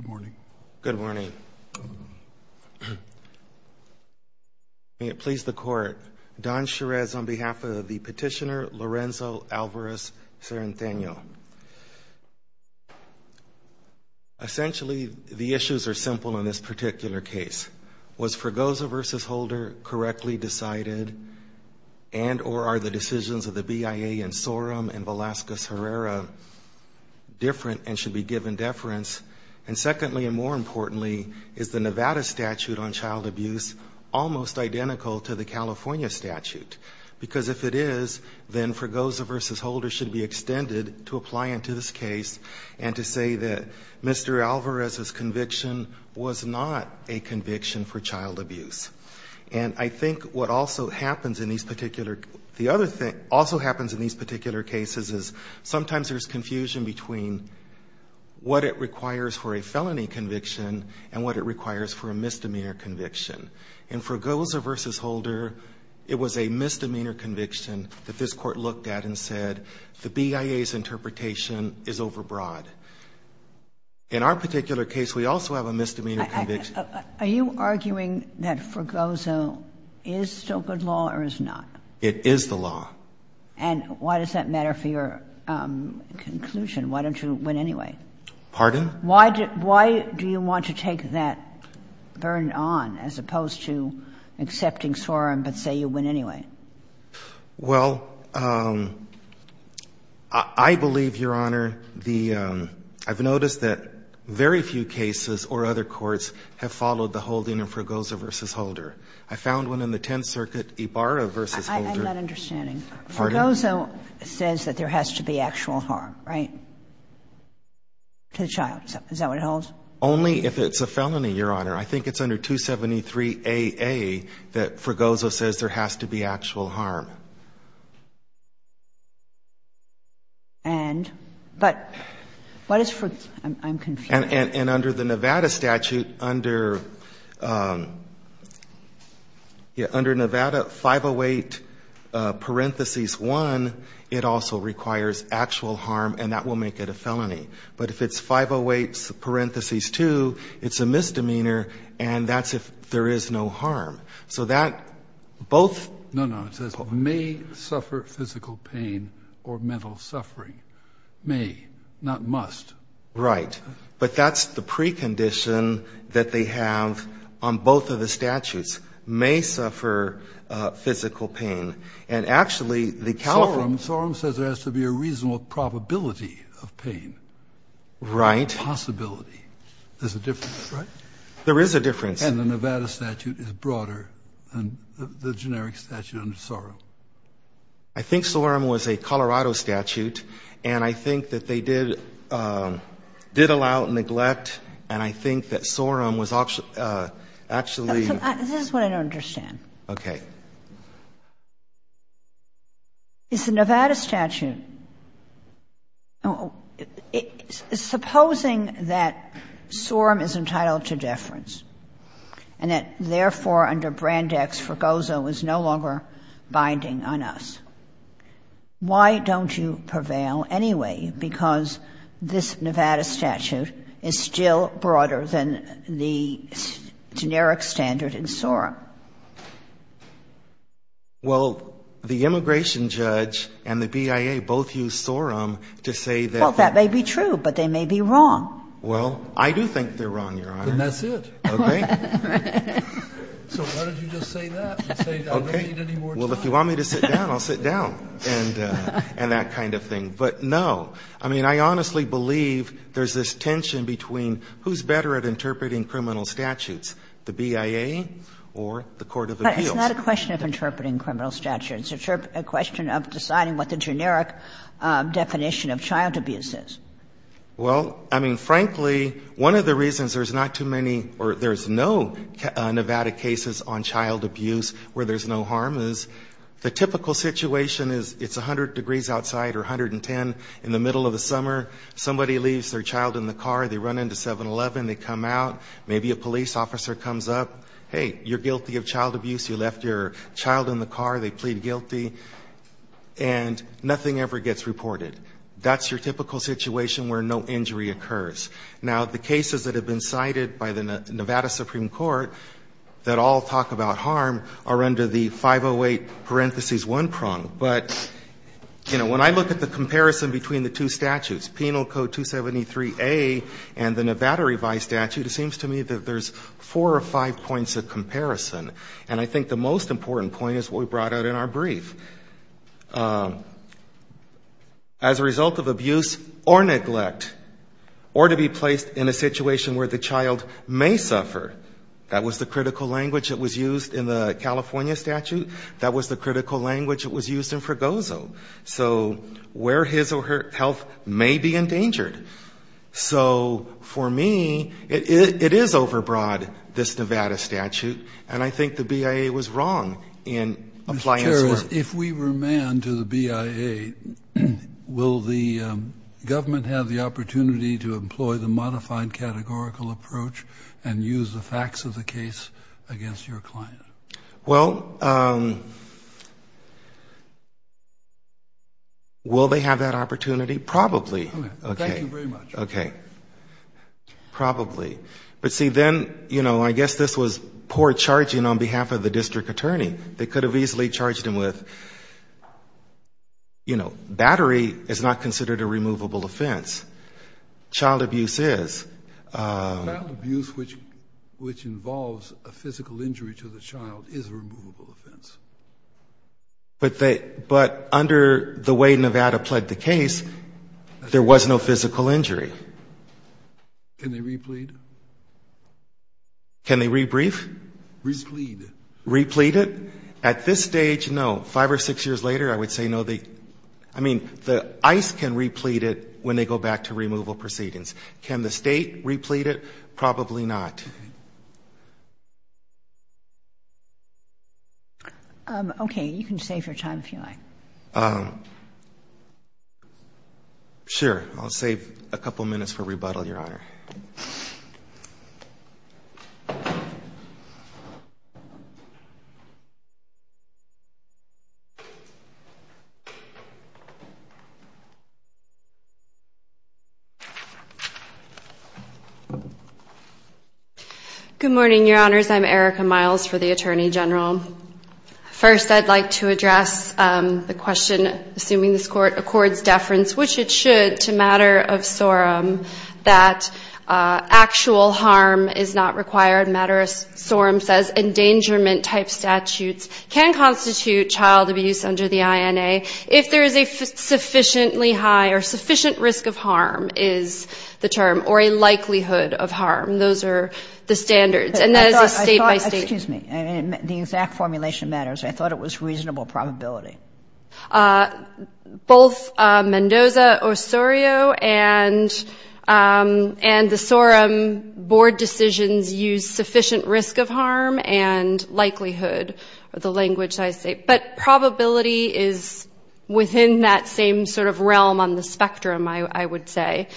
Good morning. May it please the court. Don Cherez on behalf of the petitioner Lorenzo Alvarez-Cerriteno. Essentially the issues are simple in this particular case. Was Fergoza v. Holder correctly decided and or are the decisions of the BIA and Sorum and Velazquez Herrera different and should be given deference and secondly and more importantly is the Nevada statute on child abuse almost identical to the California statute because if it is then Fergoza v. Holder should be extended to apply into this case and to say that Mr. Alvarez's conviction was not a conviction for child abuse and I think what also happens in these particular the other thing also happens in these particular cases is sometimes there's confusion between what it requires for a felony conviction and what it requires for a misdemeanor conviction. In Fergoza v. Holder it was a misdemeanor conviction that this court looked at and said the BIA's interpretation is overbroad. In our particular case we also have a misdemeanor conviction. Are you arguing that Fergoza is still good law or is not? It is the law. And why does that matter for your conclusion? Why don't you win anyway? Pardon? Why do you want to take that burn on as opposed to accepting Sorum but say you win anyway? Well, I believe, Your Honor, the I've noticed that very few cases or other courts have followed the holding in Fergoza v. Holder. I found one in the Tenth Circuit, Ibarra v. Holder. I'm not understanding. Fergoza says that there has to be actual harm, right, to the child. Is that what it holds? Only if it's a felony, Your Honor. I think it's under 273AA that Fergoza says there has to be actual harm. And? But what is Fergoza? I'm confused. And under the Nevada statute, under Nevada 508 parentheses 1, it also requires actual harm and that will make it a felony. But if it's 508 parentheses 2, it's a misdemeanor and that's if there is no harm. So that both No, no. It says may suffer physical pain or mental suffering. May, not must. Right. But that's the precondition that they have on both of the statutes. May suffer physical pain. And actually, the California Sorum says there has to be a reasonable probability of pain. Right. Possibility. There's a difference, right? There is a difference. And the Nevada statute is broader than the generic statute under Sorum. I think Sorum was a Colorado statute, and I think that they did allow neglect, and I think that Sorum was actually This is what I don't understand. Okay. It's the Nevada statute. Supposing that Sorum is entitled to deference and that, therefore, under Brandex, is no longer binding on us, why don't you prevail anyway? Because this Nevada statute is still broader than the generic standard in Sorum. Well, the immigration judge and the BIA both use Sorum to say that Well, that may be true, but they may be wrong. Well, I do think they're wrong, Your Honor. Then that's it. Okay. So why don't you just say that and say I don't need any more time? Well, if you want me to sit down, I'll sit down and that kind of thing. But, no, I mean, I honestly believe there's this tension between who's better at interpreting criminal statutes, the BIA or the court of appeals. But it's not a question of interpreting criminal statutes. It's a question of deciding what the generic definition of child abuse is. Well, I mean, frankly, one of the reasons there's not too many or there's no Nevada cases on child abuse where there's no harm is the typical situation is it's 100 degrees outside or 110 in the middle of the summer. Somebody leaves their child in the car. They run into 7-Eleven. They come out. Maybe a police officer comes up. Hey, you're guilty of child abuse. You left your child in the car. They plead guilty and nothing ever gets reported. That's your typical situation where no injury occurs. Now, the cases that have been cited by the Nevada Supreme Court that all talk about harm are under the 508 parentheses one prong. But, you know, when I look at the comparison between the two statutes, Penal Code 273A and the Nevada revised statute, it seems to me that there's four or five points of comparison. And I think the most important point is what we brought out in our brief. As a result of abuse or neglect or to be placed in a situation where the child may suffer, that was the critical language that was used in the California statute. That was the critical language that was used in Fregoso. So where his or her health may be endangered. So for me, it is overbroad, this Nevada statute. And I think the BIA was wrong in applying this work. If we remand to the BIA, will the government have the opportunity to employ the modified categorical approach and use the facts of the case against your client? Well, will they have that opportunity? Probably. Thank you very much. OK. Probably. But see, then, you know, I guess this was poor charging on behalf of the district attorney. They could have easily charged him with, you know, battery is not considered a removable offense. Child abuse is. Child abuse, which involves a physical injury to the child, is a removable offense. But under the way Nevada pled the case, there was no physical injury. Can they replead? Can they rebrief? Replead. Replead it? At this stage, no. Five or six years later, I would say no. I mean, the ICE can replete it when they go back to removal proceedings. Can the state replete it? Probably not. OK, you can save your time if you like. Sure, I'll save a couple of minutes for rebuttal, Your Honor. Good morning, Your Honors. I'm Erica Miles for the Attorney General. First, I'd like to address the question, assuming this court accords deference, which it should, to matter of sorum, that actual harm is not required. Matter of sorum says endangerment type statutes can constitute child abuse under the INA if there is a sufficiently high or sufficient risk of harm is the term, or a likelihood of harm. Those are the standards. And that is a state by state. Excuse me. The exact formulation matters. I thought it was reasonable probability. Both Mendoza-Osorio and the sorum board decisions use sufficient risk of harm and likelihood, the language I say. But probability is within that same sort of realm on the spectrum, I would say.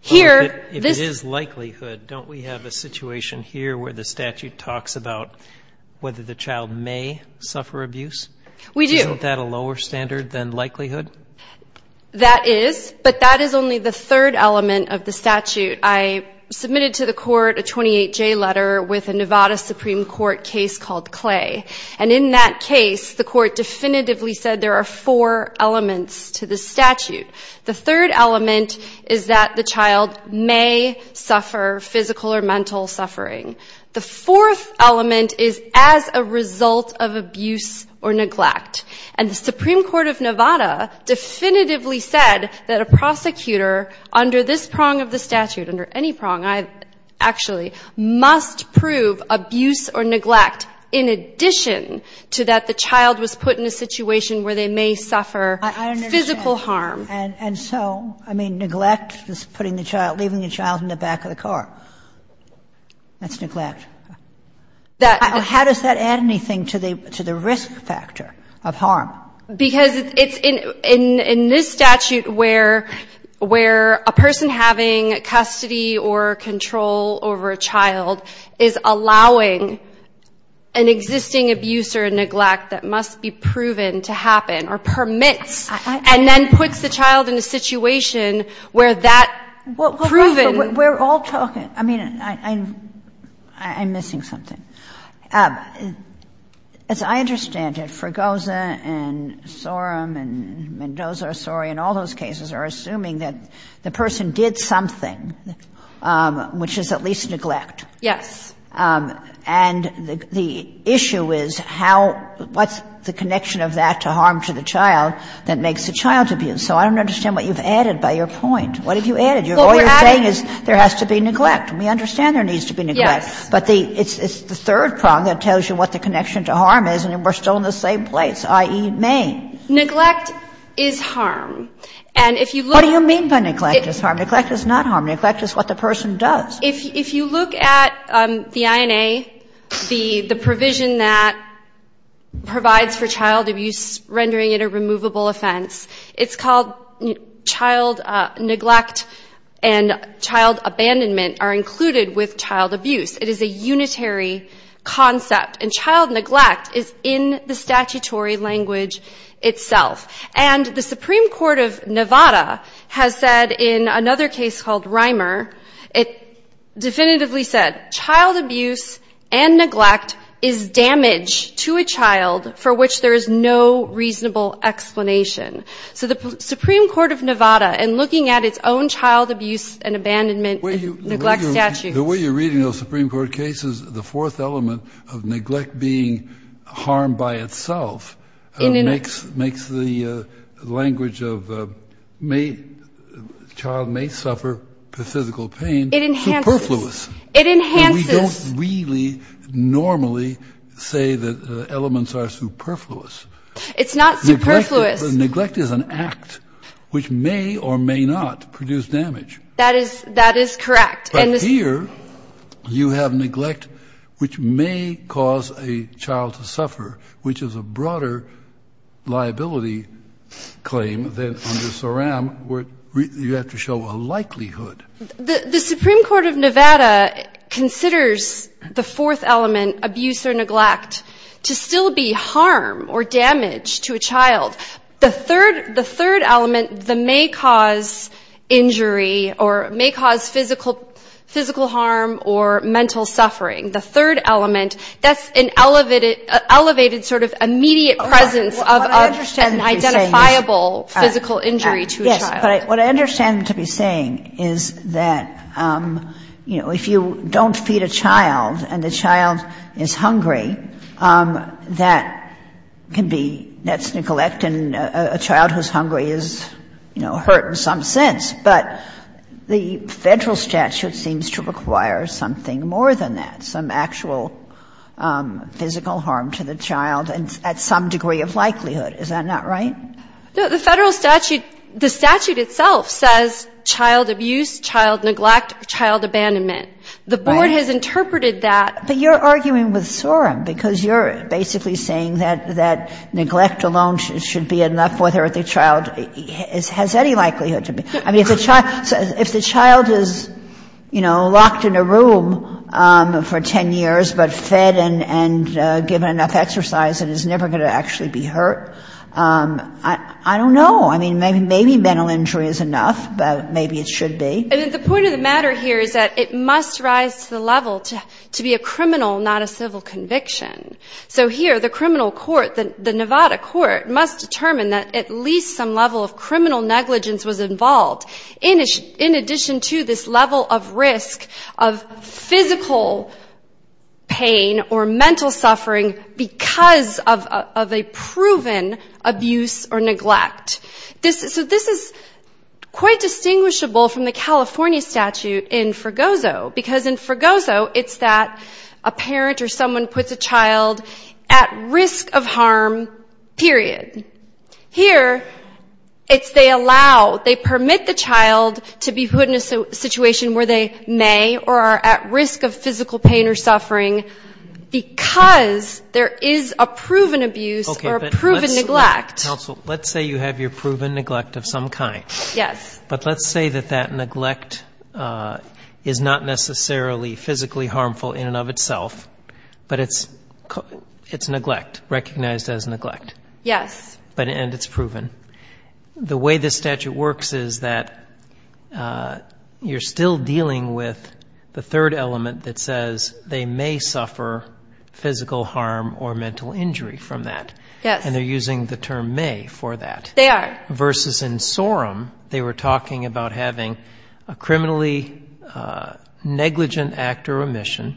Here, this is likelihood. Don't we have a situation here where the statute talks about whether the child may suffer abuse? We do. Isn't that a lower standard than likelihood? That is. But that is only the third element of the statute. I submitted to the court a 28-J letter with a Nevada Supreme Court case called Clay. And in that case, the court definitively said there are four elements to the statute. The third element is that the child may suffer physical or mental suffering. The fourth element is as a result of abuse or neglect. And the Supreme Court of Nevada definitively said that a prosecutor under this prong of the statute, under any prong, actually, must prove abuse or neglect in addition to that the child was put in a situation where they may suffer physical harm. I understand. And so, I mean, neglect is putting the child, leaving the child in the back of the car. That's neglect. How does that add anything to the risk factor of harm? Because it's in this statute where a person having custody or control over a child is allowing an existing abuse or neglect that must be proven to happen or permits and then puts the child in a situation where that proven – Well, we're all talking. I mean, I'm missing something. As I understand it, Fregosa and Sorum and Mendoza-Soray in all those cases are assuming that the person did something, which is at least neglect. Yes. And the issue is how – what's the connection of that to harm to the child that makes the child abuse. So I don't understand what you've added by your point. What have you added? All you're saying is there has to be neglect. We understand there needs to be neglect. Yes. But it's the third prong that tells you what the connection to harm is. And we're still in the same place, i.e., Maine. Neglect is harm. And if you look – What do you mean by neglect is harm? Neglect is not harm. Neglect is what the person does. If you look at the INA, the provision that provides for child abuse, rendering it a child abandonment are included with child abuse. It is a unitary concept. And child neglect is in the statutory language itself. And the Supreme Court of Nevada has said in another case called Reimer, it definitively said child abuse and neglect is damage to a child for which there is no reasonable explanation. So the Supreme Court of Nevada, in looking at its own child abuse and abandonment and neglect statute – The way you're reading those Supreme Court cases, the fourth element of neglect being harm by itself makes the language of child may suffer physical pain superfluous. It enhances. It enhances. And we don't really normally say that elements are superfluous. It's not superfluous. But neglect is an act which may or may not produce damage. That is correct. But here, you have neglect which may cause a child to suffer, which is a broader liability claim than under SORAM where you have to show a likelihood. The Supreme Court of Nevada considers the fourth element, abuse or neglect, to still be harm or damage to a child. The third element, the may cause injury or may cause physical harm or mental suffering, the third element, that's an elevated sort of immediate presence of an identifiable physical injury to a child. Yes. But what I understand to be saying is that, you know, if you don't feed a child and the child is hungry, that can be, that's neglect, and a child who's hungry is, you know, hurt in some sense. But the Federal statute seems to require something more than that, some actual physical harm to the child and at some degree of likelihood. Is that not right? No. The Federal statute, the statute itself says child abuse, child neglect, child abandonment. The Board has interpreted that. But you're arguing with SORAM because you're basically saying that neglect alone should be enough whether the child has any likelihood to be. I mean, if the child is, you know, locked in a room for 10 years but fed and given enough exercise and is never going to actually be hurt, I don't know. I mean, maybe mental injury is enough, but maybe it should be. The point of the matter here is that it must rise to the level to be a criminal, not a civil conviction. So here, the criminal court, the Nevada court must determine that at least some level of criminal negligence was involved in addition to this level of risk of physical pain or mental suffering because of a proven abuse or neglect. So this is quite distinguishable from the California statute in Fregoso because in Fregoso it's that a parent or someone puts a child at risk of harm, period. Here, it's they allow, they permit the child to be put in a situation where they may or are at risk of physical pain or suffering because there is a proven abuse or a proven neglect. Counsel, let's say you have your proven neglect of some kind. Yes. But let's say that that neglect is not necessarily physically harmful in and of itself, but it's neglect, recognized as neglect. Yes. And it's proven. The way this statute works is that you're still dealing with the third element that says they may suffer physical harm or mental injury from that. Yes. And they're using the term may for that. They are. Versus in SORM, they were talking about having a criminally negligent act or omission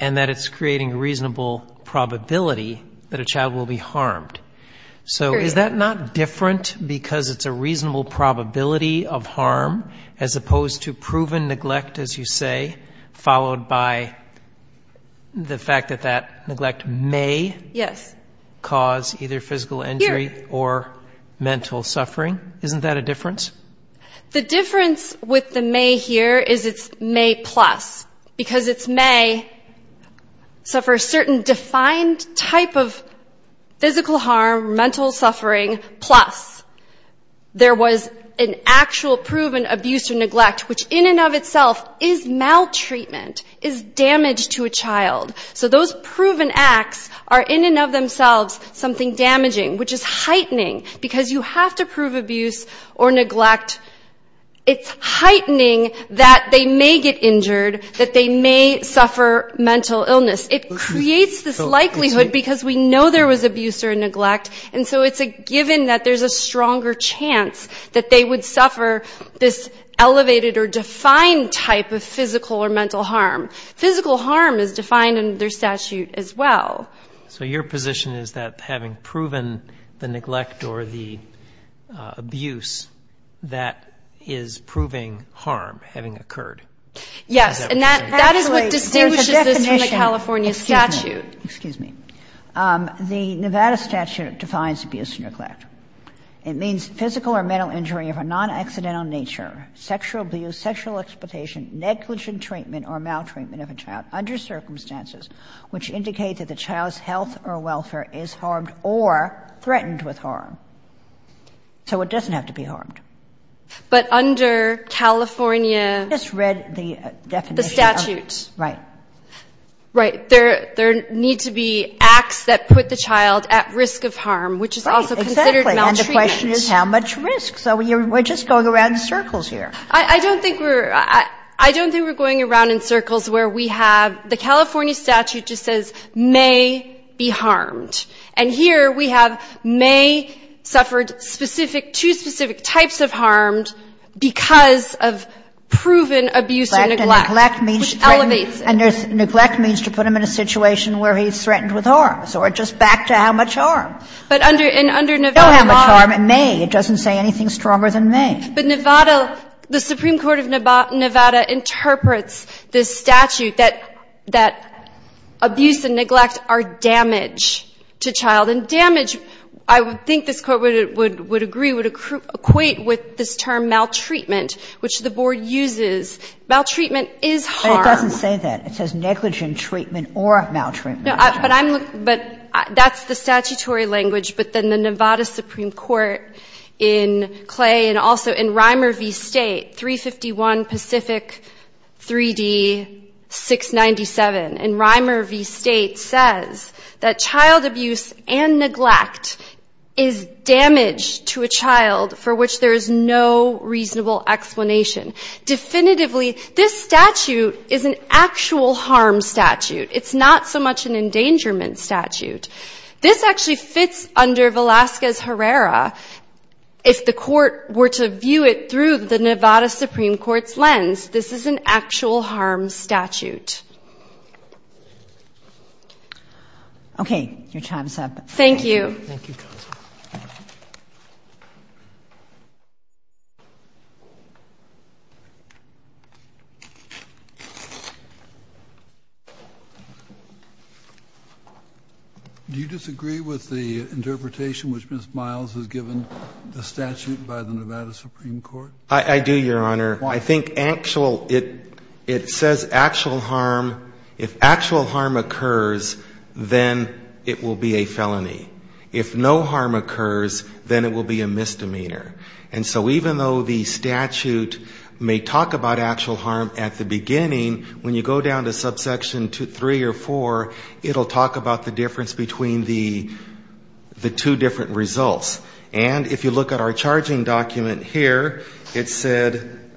and that it's creating a reasonable probability that a child will be harmed. Period. So is that not different because it's a reasonable probability of harm as opposed to proven neglect, as you say, followed by the fact that that neglect may cause physical harm? Either physical injury or mental suffering. Isn't that a difference? The difference with the may here is it's may plus because it's may suffer a certain defined type of physical harm, mental suffering plus there was an actual proven abuse or neglect, which in and of itself is maltreatment, is damage to a child. So those proven acts are in and of themselves something damaging, which is heightening because you have to prove abuse or neglect. It's heightening that they may get injured, that they may suffer mental illness. It creates this likelihood because we know there was abuse or neglect. And so it's a given that there's a stronger chance that they would suffer this elevated or defined type of physical or mental harm. Physical harm is defined in their statute as well. So your position is that having proven the neglect or the abuse, that is proving harm having occurred? Yes. And that is what distinguishes this from the California statute. Excuse me. The Nevada statute defines abuse and neglect. It means physical or mental injury of a non-accidental nature, sexual abuse, sexual exploitation, negligent treatment or maltreatment of a child under circumstances which indicate that the child's health or welfare is harmed or threatened with harm. So it doesn't have to be harmed. But under California... I just read the definition. The statute. Right. Right. There need to be acts that put the child at risk of harm, which is also considered maltreatment. Right, exactly, and the question is how much risk? So we're just going around in circles here. I don't think we're going around in circles where we have the California statute just says may be harmed. And here we have may suffered specific, two specific types of harmed because of proven abuse or neglect, which elevates it. Neglect means to put him in a situation where he's threatened with harm, so we're just back to how much harm. But under Nevada... It doesn't say anything stronger than may. But Nevada, the Supreme Court of Nevada interprets this statute that abuse and neglect are damage to child, and damage, I think this Court would agree, would equate with this term maltreatment, which the Board uses. Maltreatment is harm. But it doesn't say that. But that's the statutory language, but then the Nevada Supreme Court in Clay and also in Reimer v. State, 351 Pacific 3D 697, and Reimer v. State says that child abuse and neglect is damage to a child for which there is no reasonable explanation. Definitively, this statute is an actual harm statute. It's not so much an endangerment statute. This actually fits under Velazquez-Herrera. If the Court were to view it through the Nevada Supreme Court's lens, this is an actual harm statute. Okay, your time's up. Thank you. Do you disagree with the interpretation which Ms. Miles has given the statute by the Nevada Supreme Court? I do, Your Honor. Why? I think actual, it says actual harm. If actual harm occurs, then it will be a felony. If no harm occurs, then it will be a misdemeanor. And so even though the statute may talk about actual harm at the beginning, when you go down to subsection 3 or 4, it will talk about the difference between the two different results. And if you look at our charging document here, it said,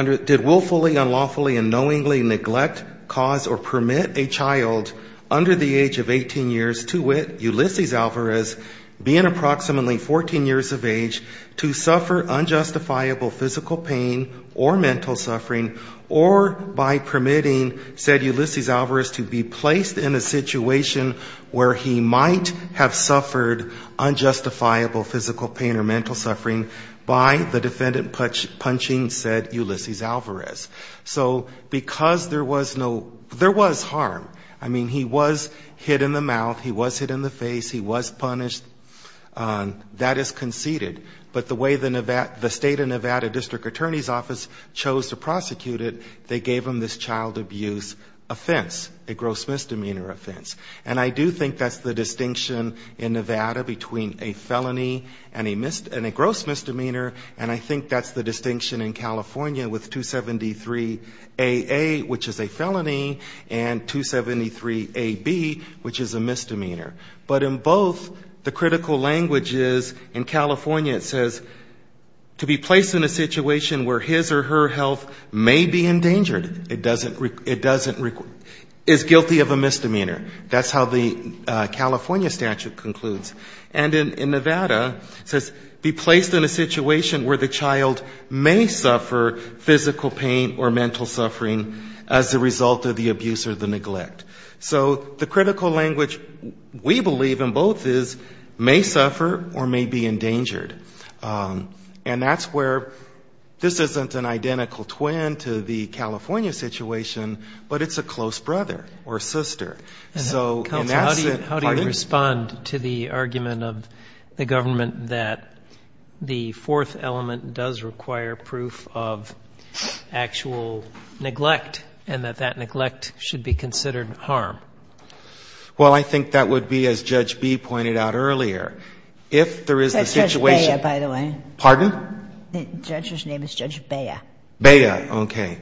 did willfully, unlawfully, and knowingly neglect cause or permit a child under the age of 18 years to wit Ulysses Alvarez, being approximately 14 years of age, to suffer unjustifiable physical pain or mental suffering, or by permitting, said Ulysses Alvarez, to be placed in a situation where he might have suffered unjustifiable physical pain or mental suffering by the defendant punching said Ulysses Alvarez. So because there was no, there was harm, I mean, he was hit in the mouth, he was hit in the face, he was punished, that is conceded. But the way the state of Nevada district attorney's office chose to prosecute it, they gave him this child abuse offense, a gross misdemeanor offense. And I do think that's the distinction in Nevada between a felony and a gross misdemeanor, and I think that's the distinction in California with 273AA, which is a felony, and 273AB, which is a misdemeanor. But in both, the critical language is, in California it says, to be placed in a situation where his or her health may be endangered, it doesn't, is guilty of a misdemeanor. That's how the California statute concludes. And in Nevada, it says, be placed in a situation where the child may suffer physical pain or mental suffering as a result of the abuse or the neglect. So the critical language, we believe in both is, may suffer or may be endangered. And that's where, this isn't an identical twin to the California situation, but it's a close brother or sister. So in that sense- How do you respond to the argument of the government that the fourth element does require proof of actual neglect, and that that neglect should be considered harm? Well, I think that would be, as Judge B pointed out earlier, if there is a situation- That's Judge Bea, by the way. Pardon? The judge's name is Judge Bea. Bea. Okay.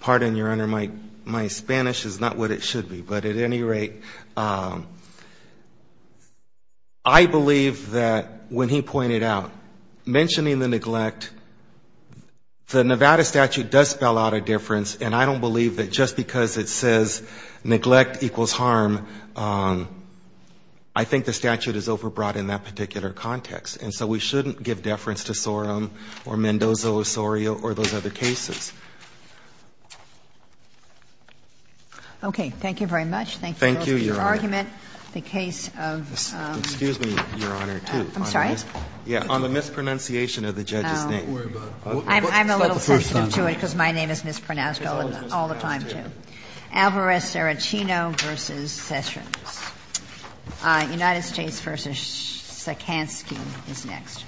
Pardon, Your Honor, my Spanish is not what it should be, but at any rate, I believe that when he pointed out, mentioning the neglect, the Nevada statute does spell out a difference, and I don't believe that just because it says neglect equals harm, I think the statute is overbrought in that particular context. And so we shouldn't give deference to Sorum or Mendoza, Osorio, or those other cases. Okay. Thank you for your argument. Thank you, Your Honor. The case of- Excuse me, Your Honor, too. I'm sorry? Yeah. On the mispronunciation of the judge's name. Don't worry about it. It's not the first time. I'm a little sensitive to it because my name is mispronounced all the time, too. Alvarez-Cerachino v. Sessions. United States v. Sikansky is next.